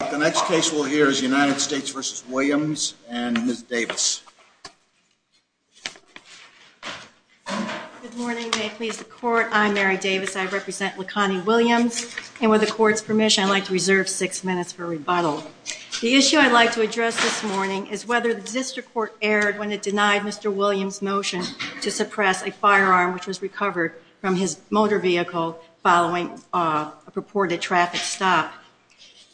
The next case we'll hear is United States v. Williams and Ms. Davis. Good morning. May it please the Court, I'm Mary Davis. I represent Leconie Williams. And with the Court's permission, I'd like to reserve six minutes for rebuttal. The issue I'd like to address this morning is whether the District Court erred when it denied Mr. Williams' motion to suppress a firearm which was recovered from his motor vehicle following a purported traffic stop.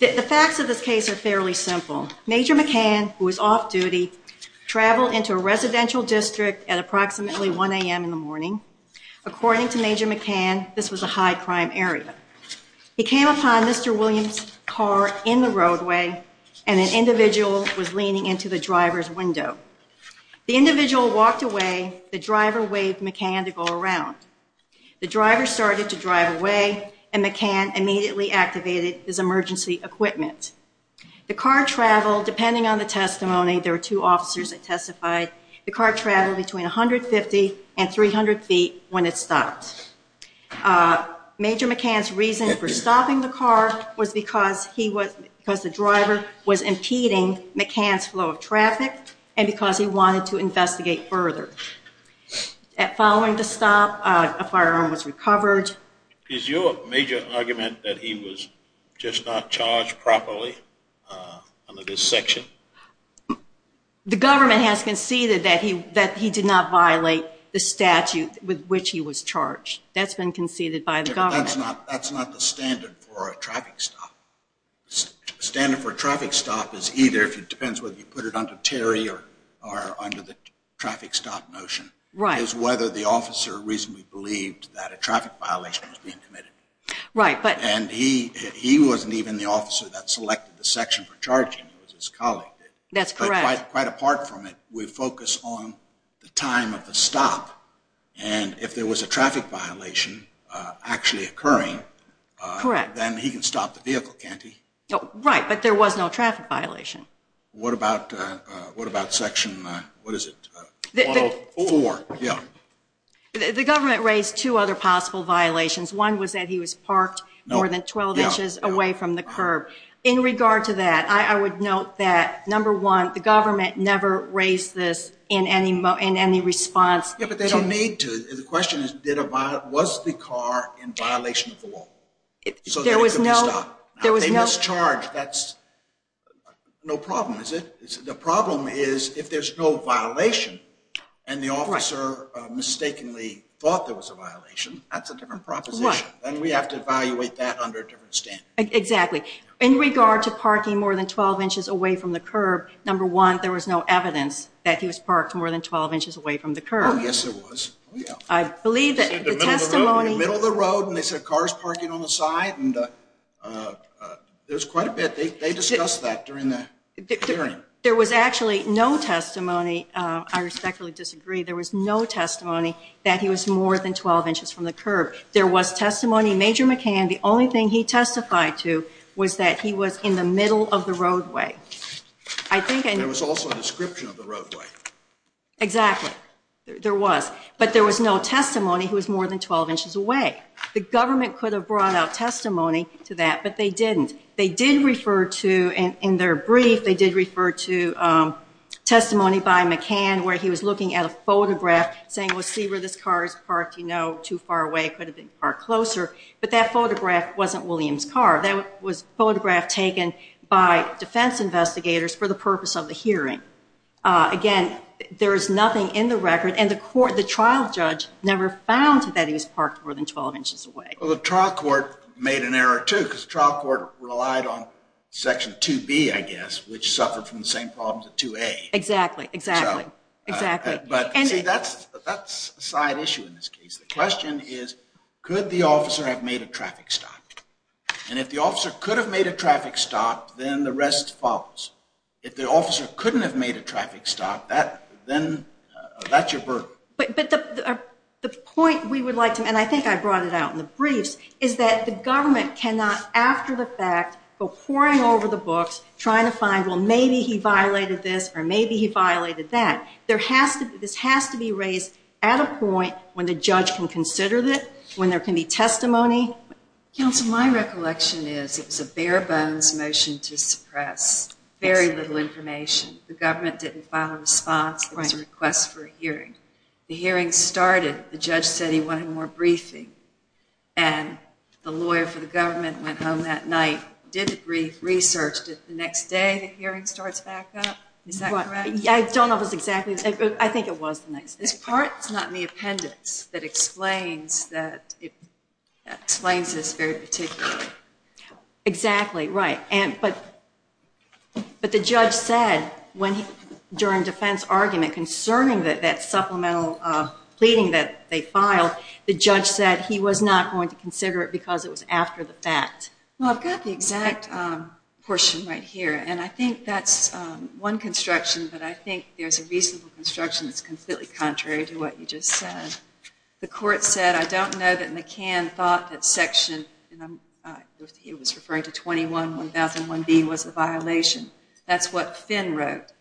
The facts of this case are fairly simple. Major McCann, who was off-duty, traveled into a residential district at approximately 1 a.m. in the morning. According to Major McCann, this was a high-crime area. He came upon Mr. Williams' car in the roadway, and an individual was leaning into the driver's window. The individual walked away. The driver waved McCann to go around. The driver started to drive away, and McCann immediately activated his emergency equipment. The car traveled, depending on the testimony, there were two officers that testified, the car traveled between 150 and 300 feet when it stopped. Major McCann's reason for stopping the car was because the driver was impeding McCann's flow of traffic and because he wanted to investigate further. Following the stop, a firearm was recovered. Is your major argument that he was just not charged properly under this section? The government has conceded that he did not violate the statute with which he was charged. That's been conceded by the government. That's not the standard for a traffic stop. The standard for a traffic stop is either, it depends whether you put it under Terry or under the traffic stop notion, is whether the officer reasonably believed that a traffic violation was being committed. And he wasn't even the officer that selected the section for charging, it was his colleague. That's correct. But quite apart from it, we focus on the time of the stop, and if there was a traffic violation actually occurring, then he can stop the vehicle, can't he? Right, but there was no traffic violation. What about section, what is it, 4? The government raised two other possible violations. One was that he was parked more than 12 inches away from the curb. In regard to that, I would note that, number one, the government never raised this in any response. Yeah, but they don't need to. The question is, was the car in violation of the law? So there was no stop. They mischarged, that's no problem, is it? The problem is, if there's no violation, and the officer mistakenly thought there was a violation, that's a different proposition. And we have to evaluate that under a different standard. Exactly. In regard to parking more than 12 inches away from the curb, number one, that there was no evidence that he was parked more than 12 inches away from the curb. Oh, yes, there was. I believe that the testimony… In the middle of the road, and they said, car's parking on the side, and there was quite a bit. They discussed that during the hearing. There was actually no testimony, I respectfully disagree, there was no testimony that he was more than 12 inches from the curb. There was testimony, Major McCann, the only thing he testified to was that he was in the middle of the roadway. There was also a description of the roadway. Exactly, there was. But there was no testimony he was more than 12 inches away. The government could have brought out testimony to that, but they didn't. They did refer to, in their brief, they did refer to testimony by McCann where he was looking at a photograph, saying, well, see where this car is parked, you know, too far away, could have been parked closer. But that photograph wasn't William's car. That was a photograph taken by defense investigators for the purpose of the hearing. Again, there is nothing in the record, and the trial judge never found that he was parked more than 12 inches away. Well, the trial court made an error, too, because the trial court relied on Section 2B, I guess, which suffered from the same problems as 2A. Exactly, exactly, exactly. But, see, that's a side issue in this case. The question is, could the officer have made a traffic stop? And if the officer could have made a traffic stop, then the rest follows. If the officer couldn't have made a traffic stop, then that's your burden. But the point we would like to make, and I think I brought it out in the briefs, is that the government cannot, after the fact, go poring over the books, trying to find, well, maybe he violated this or maybe he violated that. This has to be raised at a point when the judge can consider it, when there can be testimony. Counsel, my recollection is it was a bare-bones motion to suppress very little information. The government didn't file a response. It was a request for a hearing. The hearing started. The judge said he wanted more briefing, and the lawyer for the government went home that night, did the brief, researched it. The next day, the hearing starts back up. Is that correct? I don't know if it's exactly that, but I think it was the next day. This part is not in the appendix that explains this very particularly. Exactly, right. But the judge said during defense argument concerning that supplemental pleading that they filed, the judge said he was not going to consider it because it was after the fact. Well, I've got the exact portion right here, and I think that's one construction, but I think there's a reasonable construction that's completely contrary to what you just said. The court said, I don't know that McCann thought that section, and he was referring to 21-1001B, was a violation. That's what Finn wrote.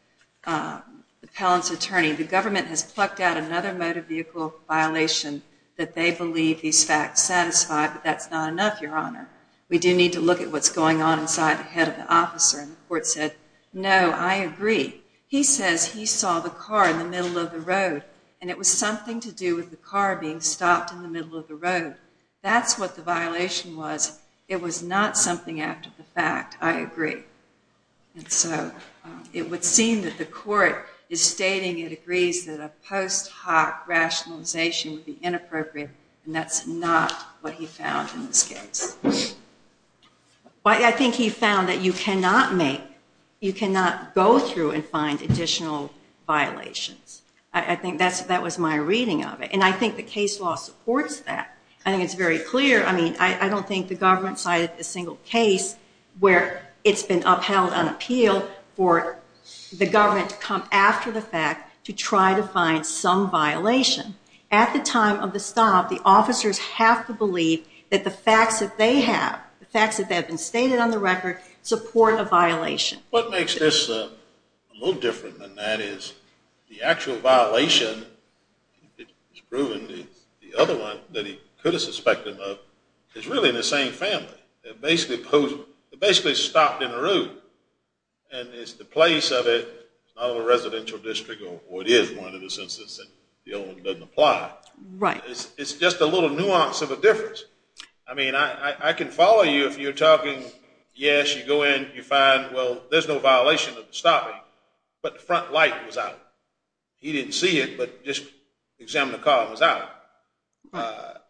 The Pallance attorney, the government has plucked out another motor vehicle violation that they believe these facts satisfy, but that's not enough, Your Honor. We do need to look at what's going on inside the head of the officer. And the court said, no, I agree. He says he saw the car in the middle of the road, and it was something to do with the car being stopped in the middle of the road. That's what the violation was. It was not something after the fact. I agree. And so it would seem that the court is stating it agrees that a post hoc rationalization would be inappropriate, and that's not what he found in this case. I think he found that you cannot make, you cannot go through and find additional violations. I think that was my reading of it. And I think the case law supports that. I think it's very clear. I mean, I don't think the government cited a single case where it's been upheld on appeal for the government to come after the fact to try to find some violation. At the time of the stop, the officers have to believe that the facts that they have, the facts that have been stated on the record, support a violation. What makes this a little different than that is the actual violation is proven. The other one that he could have suspected of is really in the same family. They're basically stopped in the road. And it's the place of it. It's not a residential district, or it is one in the sense that the other one doesn't apply. Right. It's just a little nuance of a difference. I mean, I can follow you if you're talking, yes, you go in, you find, well, there's no violation of the stopping, but the front light was out. He didn't see it, but just examined the car and it was out.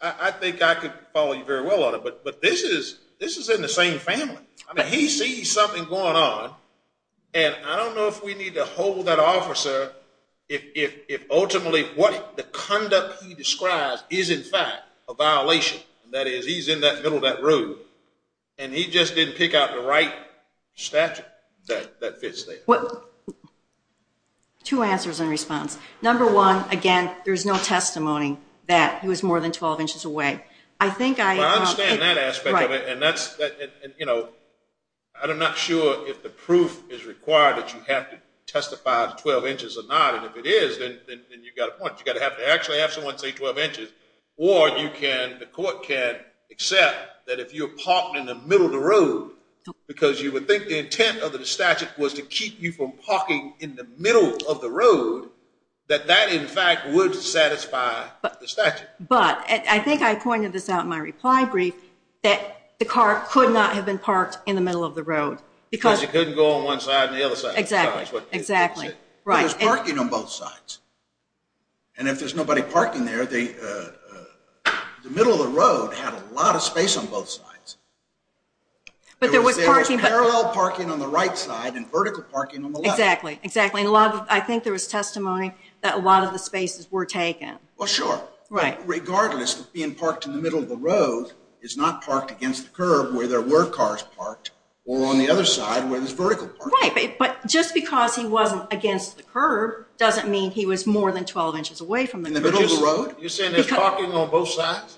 I think I could follow you very well on it, but this is in the same family. I mean, he sees something going on, and I don't know if we need to hold that officer if ultimately what the conduct he describes is, in fact, a violation. That is, he's in that middle of that road, and he just didn't pick out the right statute that fits there. Two answers in response. Number one, again, there's no testimony that he was more than 12 inches away. I understand that aspect of it, and I'm not sure if the proof is required that you have to testify to 12 inches or not, and if it is, then you've got a point. You've got to actually have someone say 12 inches, or the court can accept that if you're parked in the middle of the road because you would think the intent of the statute was to keep you from parking in the middle of the road, that that, in fact, would satisfy the statute. But I think I pointed this out in my reply brief that the car could not have been parked in the middle of the road. Because you couldn't go on one side and the other side. Exactly. There was parking on both sides, and if there's nobody parking there, the middle of the road had a lot of space on both sides. But there was parallel parking on the right side and vertical parking on the left. Exactly. I think there was testimony that a lot of the spaces were taken. Well, sure. Regardless of being parked in the middle of the road, it's not parked against the curb where there were cars parked or on the other side where there's vertical parking. Right, but just because he wasn't against the curb doesn't mean he was more than 12 inches away from the middle of the road. You're saying there's parking on both sides?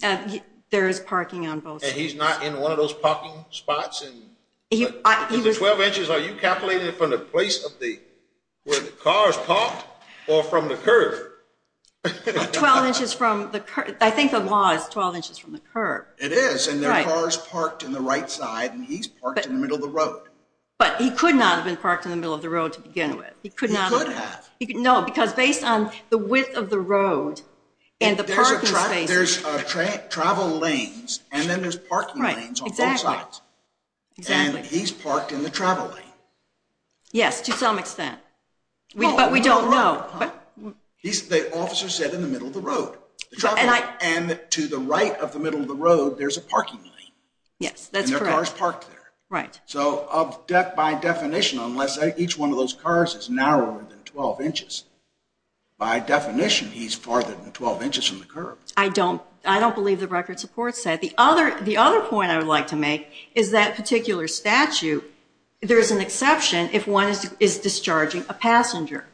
There is parking on both sides. And he's not in one of those parking spots? 12 inches, are you calculating it from the place where the cars parked or from the curb? 12 inches from the curb. I think the law is 12 inches from the curb. It is, and there are cars parked on the right side, and he's parked in the middle of the road. But he could not have been parked in the middle of the road to begin with. He could not have. No, because based on the width of the road and the parking space. There's travel lanes and then there's parking lanes on both sides. And he's parked in the travel lane. Yes, to some extent. But we don't know. The officer said in the middle of the road. And to the right of the middle of the road, there's a parking lane. Yes, that's correct. And there are cars parked there. So by definition, unless each one of those cars is narrower than 12 inches, by definition, he's farther than 12 inches from the curb. I don't believe the record supports that. The other point I would like to make is that particular statute, there's an exception if one is discharging a passenger.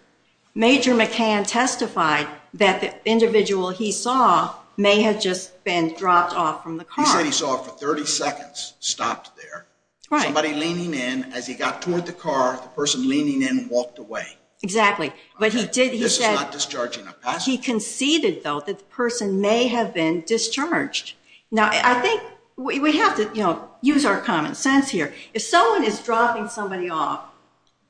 Major McCann testified that the individual he saw may have just been dropped off from the car. He said he saw it for 30 seconds, stopped there. Somebody leaning in. As he got toward the car, the person leaning in walked away. Exactly. This is not discharging a passenger. He conceded, though, that the person may have been discharged. Now, I think we have to use our common sense here. If someone is dropping somebody off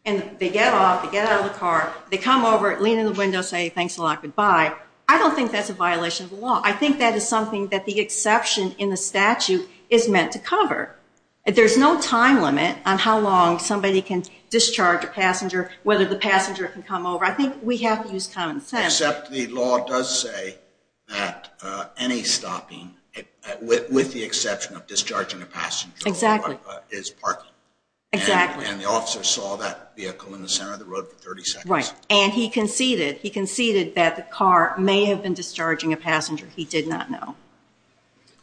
and they get off, they get out of the car, they come over, lean in the window, say thanks a lot, goodbye, I don't think that's a violation of the law. I think that is something that the exception in the statute is meant to cover. There's no time limit on how long somebody can discharge a passenger, whether the passenger can come over. I think we have to use common sense. Except the law does say that any stopping, with the exception of discharging a passenger, is parking. Exactly. And the officer saw that vehicle in the center of the road for 30 seconds. Right. And he conceded that the car may have been discharging a passenger. He did not know.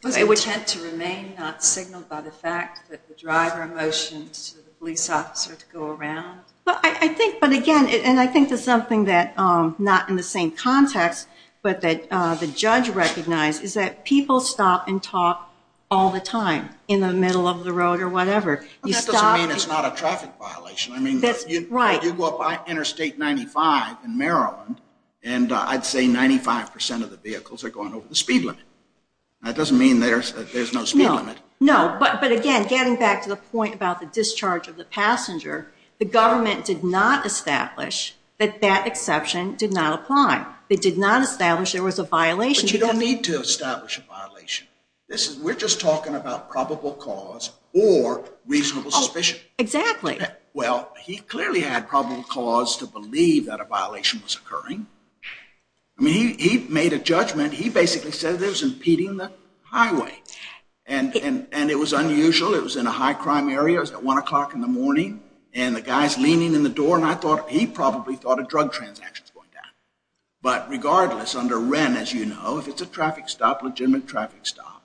Was the intent to remain not signaled by the fact that the driver motioned to the police officer to go around? I think, but again, and I think that's something that not in the same context, but that the judge recognized, is that people stop and talk all the time in the middle of the road or whatever. That doesn't mean it's not a traffic violation. Right. You go up Interstate 95 in Maryland, and I'd say 95% of the vehicles are going over the speed limit. That doesn't mean there's no speed limit. No, but again, getting back to the point about the discharge of the passenger, the government did not establish that that exception did not apply. They did not establish there was a violation. But you don't need to establish a violation. We're just talking about probable cause or reasonable suspicion. Exactly. Well, he clearly had probable cause to believe that a violation was occurring. I mean, he made a judgment. He basically said it was impeding the highway, and it was unusual. It was in a high-crime area. It was at 1 o'clock in the morning, and the guy's leaning in the door, and he probably thought a drug transaction was going down. But regardless, under Wren, as you know, if it's a traffic stop, legitimate traffic stop,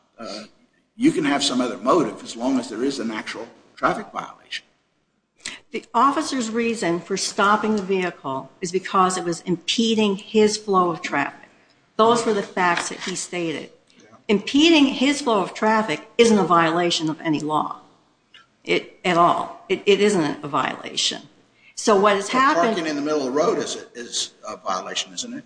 you can have some other motive as long as there is an actual traffic violation. The officer's reason for stopping the vehicle is because it was impeding his flow of traffic. Those were the facts that he stated. Impeding his flow of traffic isn't a violation of any law. At all. It isn't a violation. Parking in the middle of the road is a violation, isn't it?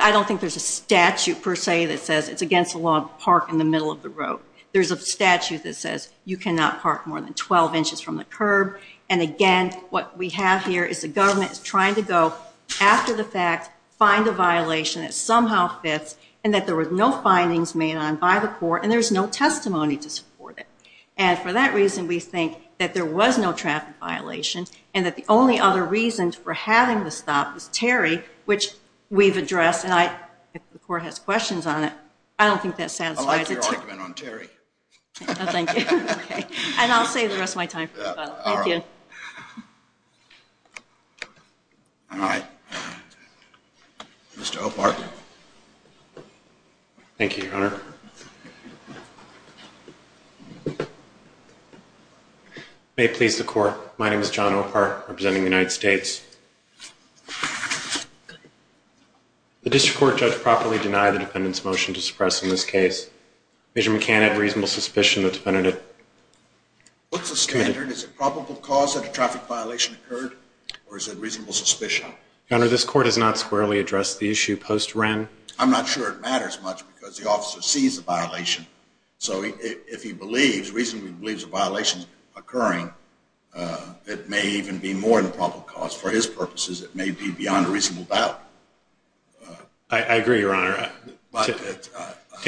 I don't think there's a statute, per se, that says it's against the law to park in the middle of the road. There's a statute that says you cannot park more than 12 inches from the curb. And again, what we have here is the government is trying to go after the fact, find a violation that somehow fits, and that there were no findings made on by the court, and there's no testimony to support it. And for that reason, we think that there was no traffic violation and that the only other reason for having the stop was Terry, which we've addressed. And if the court has questions on it, I don't think that satisfies it. I like your argument on Terry. Oh, thank you. And I'll save the rest of my time for the final. All right. Mr. O'Park. Thank you, Your Honor. It may please the court. My name is John O'Park, representing the United States. The district court judge properly denied the defendant's motion to suppress in this case. The defendant can have reasonable suspicion that the defendant had committed... What's the standard? Is it probable cause that a traffic violation occurred, or is it reasonable suspicion? Your Honor, this court has not squarely addressed the issue post-Wren. I'm not sure it matters much because the officer sees the violation. So if he believes, reasonably believes a violation is occurring, it may even be more than probable cause. For his purposes, it may be beyond a reasonable doubt. I agree, Your Honor. To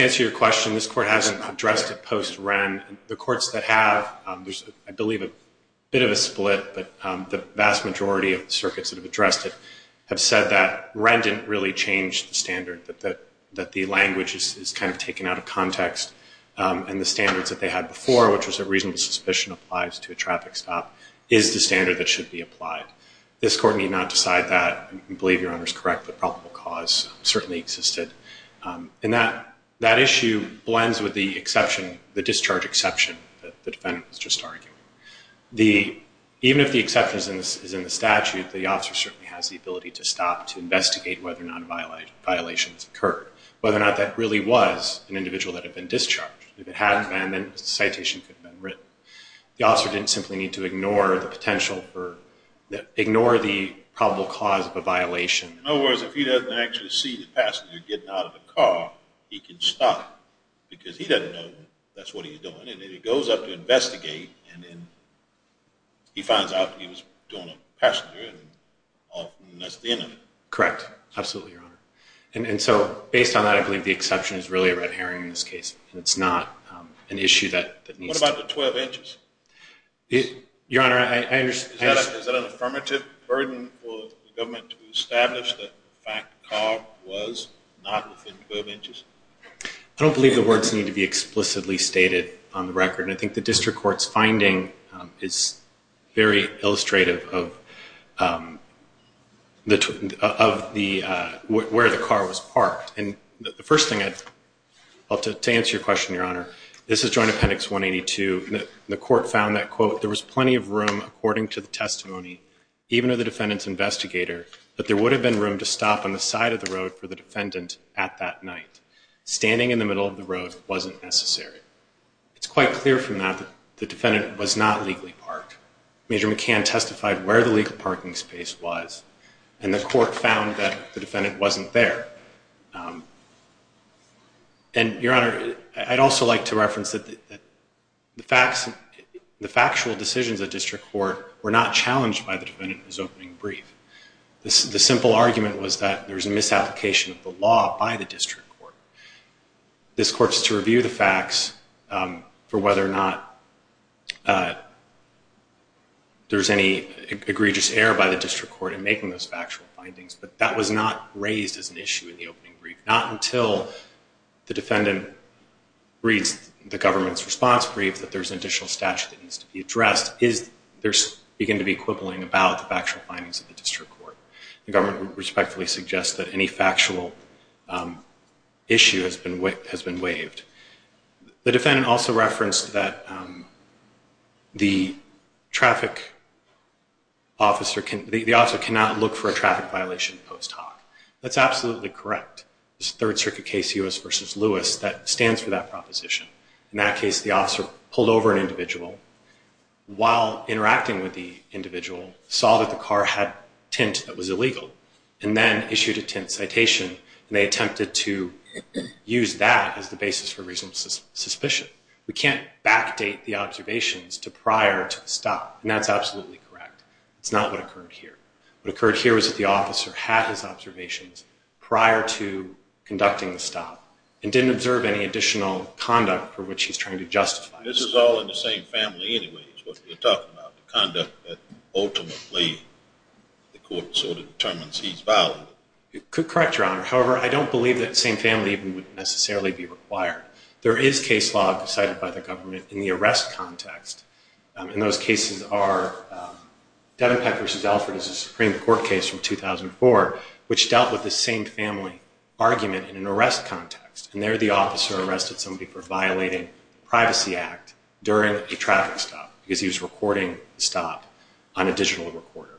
answer your question, this court hasn't addressed it post-Wren. The courts that have, there's, I believe, a bit of a split, but the vast majority of the circuits that have addressed it have said that Wren didn't really change the standard, that the language is kind of taken out of context, and the standards that they had before, which was that reasonable suspicion applies to a traffic stop, is the standard that should be applied. This court need not decide that. I believe Your Honor is correct that probable cause certainly existed. And that issue blends with the exception, the discharge exception, that the defendant was just arguing. Even if the exception is in the statute, the officer certainly has the ability to stop, to investigate whether or not a violation has occurred, whether or not that really was an individual that had been discharged. If it hadn't been, then a citation could have been written. The officer didn't simply need to ignore the potential for, ignore the probable cause of a violation. In other words, if he doesn't actually see the passenger getting out of the car, he can stop, because he doesn't know that's what he's doing, and then he goes up to investigate, and then he finds out that he was doing a passenger, and that's the end of it. Correct. Absolutely, Your Honor. And so, based on that, I believe the exception is really a red herring in this case, and it's not an issue that needs to... What about the 12 inches? Your Honor, I understand... Is that an affirmative burden for the government to establish that the fact the car was not within 12 inches? I don't believe the words need to be explicitly stated on the record, and I think the district court's finding is very illustrative of where the car was parked. And the first thing, to answer your question, Your Honor, this is Joint Appendix 182. The court found that, quote, there was plenty of room, according to the testimony, even of the defendant's investigator, that there would have been room to stop on the side of the road for the defendant at that night. Standing in the middle of the road wasn't necessary. It's quite clear from that that the defendant was not legally parked. Major McCann testified where the legal parking space was, and the court found that the defendant wasn't there. And, Your Honor, I'd also like to reference that the facts... The factual decisions of the district court were not challenged by the defendant in his opening brief. The simple argument was that there was a misapplication of the law by the district court. This court's to review the facts for whether or not there's any egregious error by the district court in making those factual findings, but that was not raised as an issue in the opening brief. Not until the defendant reads the government's response brief that there's an additional statute that needs to be addressed does there begin to be quibbling about the factual findings of the district court. The government respectfully suggests that any factual issue has been waived. The defendant also referenced that the traffic officer cannot look for a traffic violation post hoc. That's absolutely correct. It's a Third Circuit case, U.S. v. Lewis, that stands for that proposition. In that case, the officer pulled over an individual while interacting with the individual, saw that the car had tint that was illegal, and then issued a tint citation, and they attempted to use that as the basis for reasonable suspicion. We can't backdate the observations prior to the stop, and that's absolutely correct. It's not what occurred here. What occurred here was that the officer had his observations prior to conducting the stop and didn't observe any additional conduct for which he's trying to justify. This is all in the same family anyway, what we're talking about, the conduct that ultimately the court sort of determines he's violated. Correct, Your Honor. However, I don't believe that the same family even would necessarily be required. There is case law decided by the government in the arrest context, and those cases are Devenpeck v. Alford is a Supreme Court case from 2004 which dealt with the same family argument in an arrest context, and there the officer arrested somebody for violating the Privacy Act during a traffic stop because he was recording the stop on a digital recorder.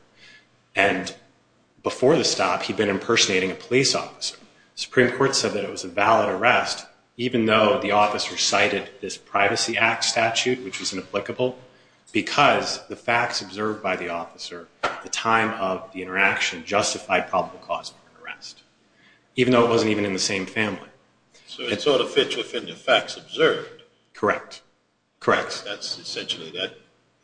And before the stop, he'd been impersonating a police officer. The Supreme Court said that it was a valid arrest even though the officer cited this Privacy Act statute, which was inapplicable, because the facts observed by the officer at the time of the interaction justified probable cause for an arrest, even though it wasn't even in the same family. So it sort of fits within the facts observed. Correct, correct. Yes, that's essentially that.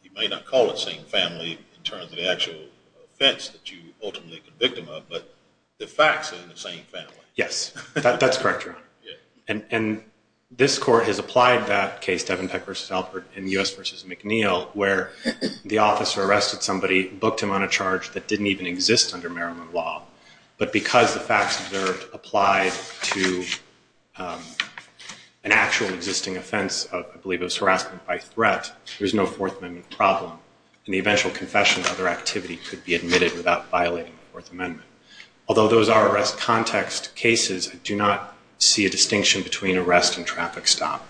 You may not call it same family in terms of the actual offense that you ultimately convict him of, but the facts are in the same family. Yes, that's correct, Your Honor. And this Court has applied that case, Devenpeck v. Alford and U.S. v. McNeil, where the officer arrested somebody, booked him on a charge that didn't even exist under Maryland law, but because the facts observed applied to an actual existing offense, I believe it was harassment by threat, there's no Fourth Amendment problem. In the eventual confession, other activity could be admitted without violating the Fourth Amendment. Although those are arrest context cases, I do not see a distinction between arrest and traffic stop.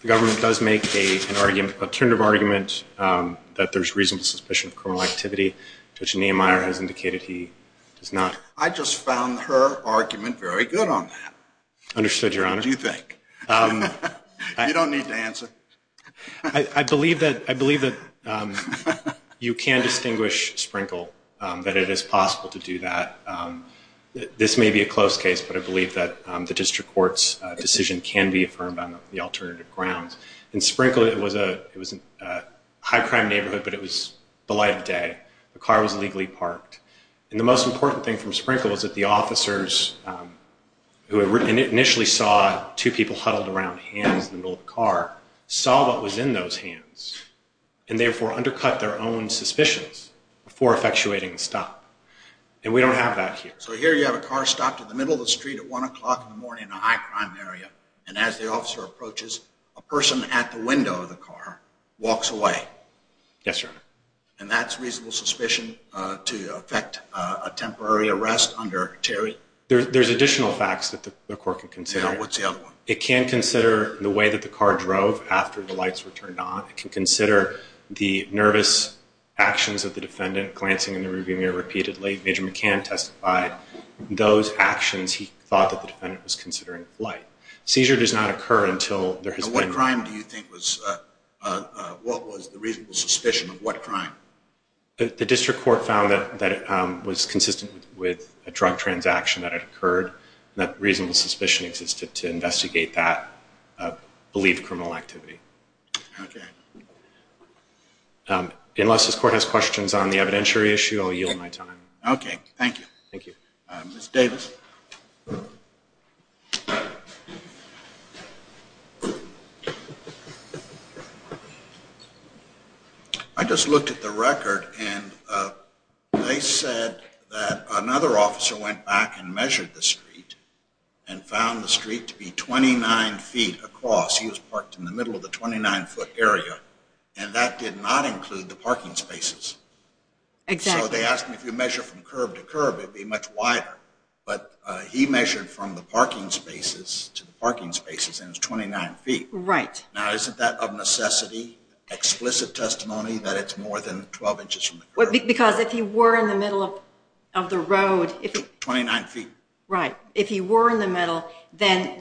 The government does make an alternative argument that there's reasonable suspicion of criminal activity. Judge Nehmeyer has indicated he does not. I just found her argument very good on that. Understood, Your Honor. What do you think? You don't need to answer. I believe that you can distinguish Sprinkle, that it is possible to do that. This may be a close case, but I believe that the district court's decision can be affirmed on the alternative grounds. In Sprinkle, it was a high-crime neighborhood, but it was the light of day. The car was legally parked. And the most important thing from Sprinkle was that the officers who initially saw two people huddled around hands in the middle of the car saw what was in those hands and therefore undercut their own suspicions before effectuating a stop. And we don't have that here. So here you have a car stopped in the middle of the street at 1 o'clock in the morning in a high-crime area, and as the officer approaches, a person at the window of the car walks away. Yes, Your Honor. And that's reasonable suspicion to effect a temporary arrest under Terry? There's additional facts that the court can consider. What's the other one? It can consider the way that the car drove after the lights were turned on. It can consider the nervous actions of the defendant, glancing in the rearview mirror repeatedly. Major McCann testified those actions. He thought that the defendant was considering flight. Seizure does not occur until there has been... What crime do you think was... What was the reasonable suspicion of what crime? The district court found that it was consistent with a drug transaction that had occurred, and that reasonable suspicion existed to investigate that believed criminal activity. Okay. Unless this court has questions on the evidentiary issue, I'll yield my time. Okay. Thank you. Thank you. Ms. Davis. I just looked at the record, and they said that another officer went back and measured the street and found the street to be 29 feet across. He was parked in the middle of the 29-foot area, and that did not include the parking spaces. Exactly. So they asked me if you measure from curb to curb, it would be much wider. But he measured from the parking spaces to the parking spaces, and it was 29 feet. Right. Now, isn't that of necessity, explicit testimony, that it's more than 12 inches from the curb? Because if he were in the middle of the road... 29 feet. Right. If he were in the middle, then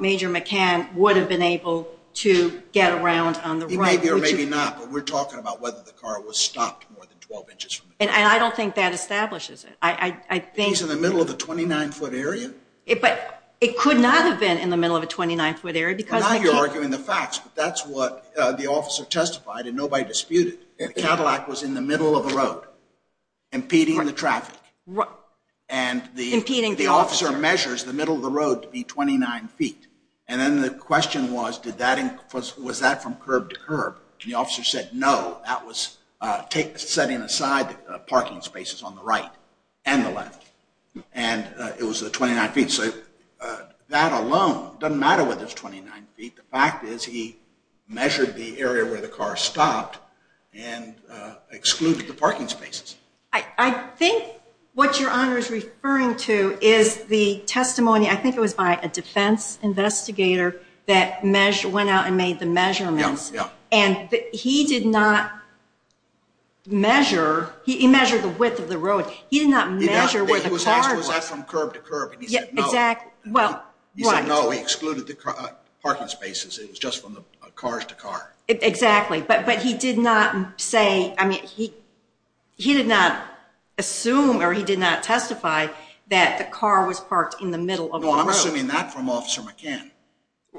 Major McCann would have been able to get around on the right. Maybe or maybe not, but we're talking about whether the car was stopped more than 12 inches from the curb. And I don't think that establishes it. He's in the middle of the 29-foot area? But it could not have been in the middle of a 29-foot area because... Now you're arguing the facts, but that's what the officer testified and nobody disputed. The Cadillac was in the middle of the road, impeding the traffic. Impeding the officer. And the officer measures the middle of the road to be 29 feet. And then the question was, was that from curb to curb? And the officer said, no, that was setting aside the parking spaces on the right and the left. And it was the 29 feet. That alone doesn't matter whether it's 29 feet. The fact is he measured the area where the car stopped and excluded the parking spaces. I think what Your Honor is referring to is the testimony, I think it was by a defense investigator, that went out and made the measurements. And he did not measure. He measured the width of the road. He did not measure where the car was. But was that from curb to curb? And he said, no. Exactly. He said, no, he excluded the parking spaces. It was just from cars to car. Exactly. But he did not say, I mean, he did not assume or he did not testify that the car was parked in the middle of the road. No, I'm assuming that from Officer McCann.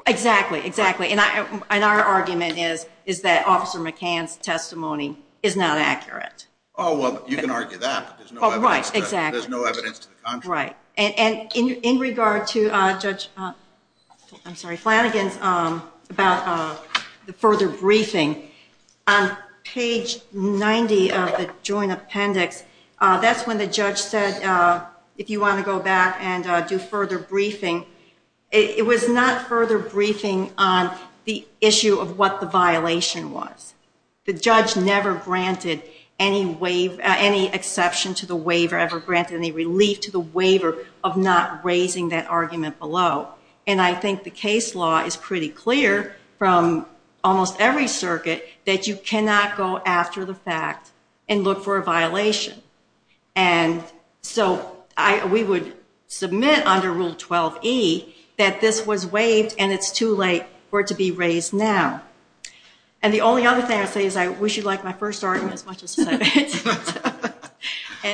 Exactly, exactly. And our argument is that Officer McCann's testimony is not accurate. Oh, well, you can argue that. Oh, right, exactly. There's no evidence to the contrary. Right. And in regard to Judge Flanagan's further briefing, on page 90 of the joint appendix, that's when the judge said, if you want to go back and do further briefing, it was not further briefing on the issue of what the violation was. The judge never granted any exception to the waiver, ever granted any relief to the waiver of not raising that argument below. And I think the case law is pretty clear from almost every circuit that you cannot go after the fact and look for a violation. And so we would submit under Rule 12e that this was waived and it's too late for it to be raised now. And the only other thing I would say is I wish you liked my first argument as much as I did.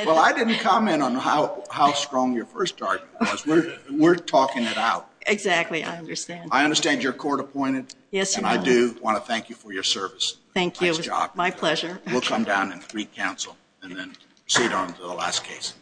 Well, I didn't comment on how strong your first argument was. We're talking it out. Exactly. I understand. I understand you're court appointed. Yes, you are. And I do want to thank you for your service. Thank you. It was my pleasure. We'll come down and re-counsel and then proceed on to the last case.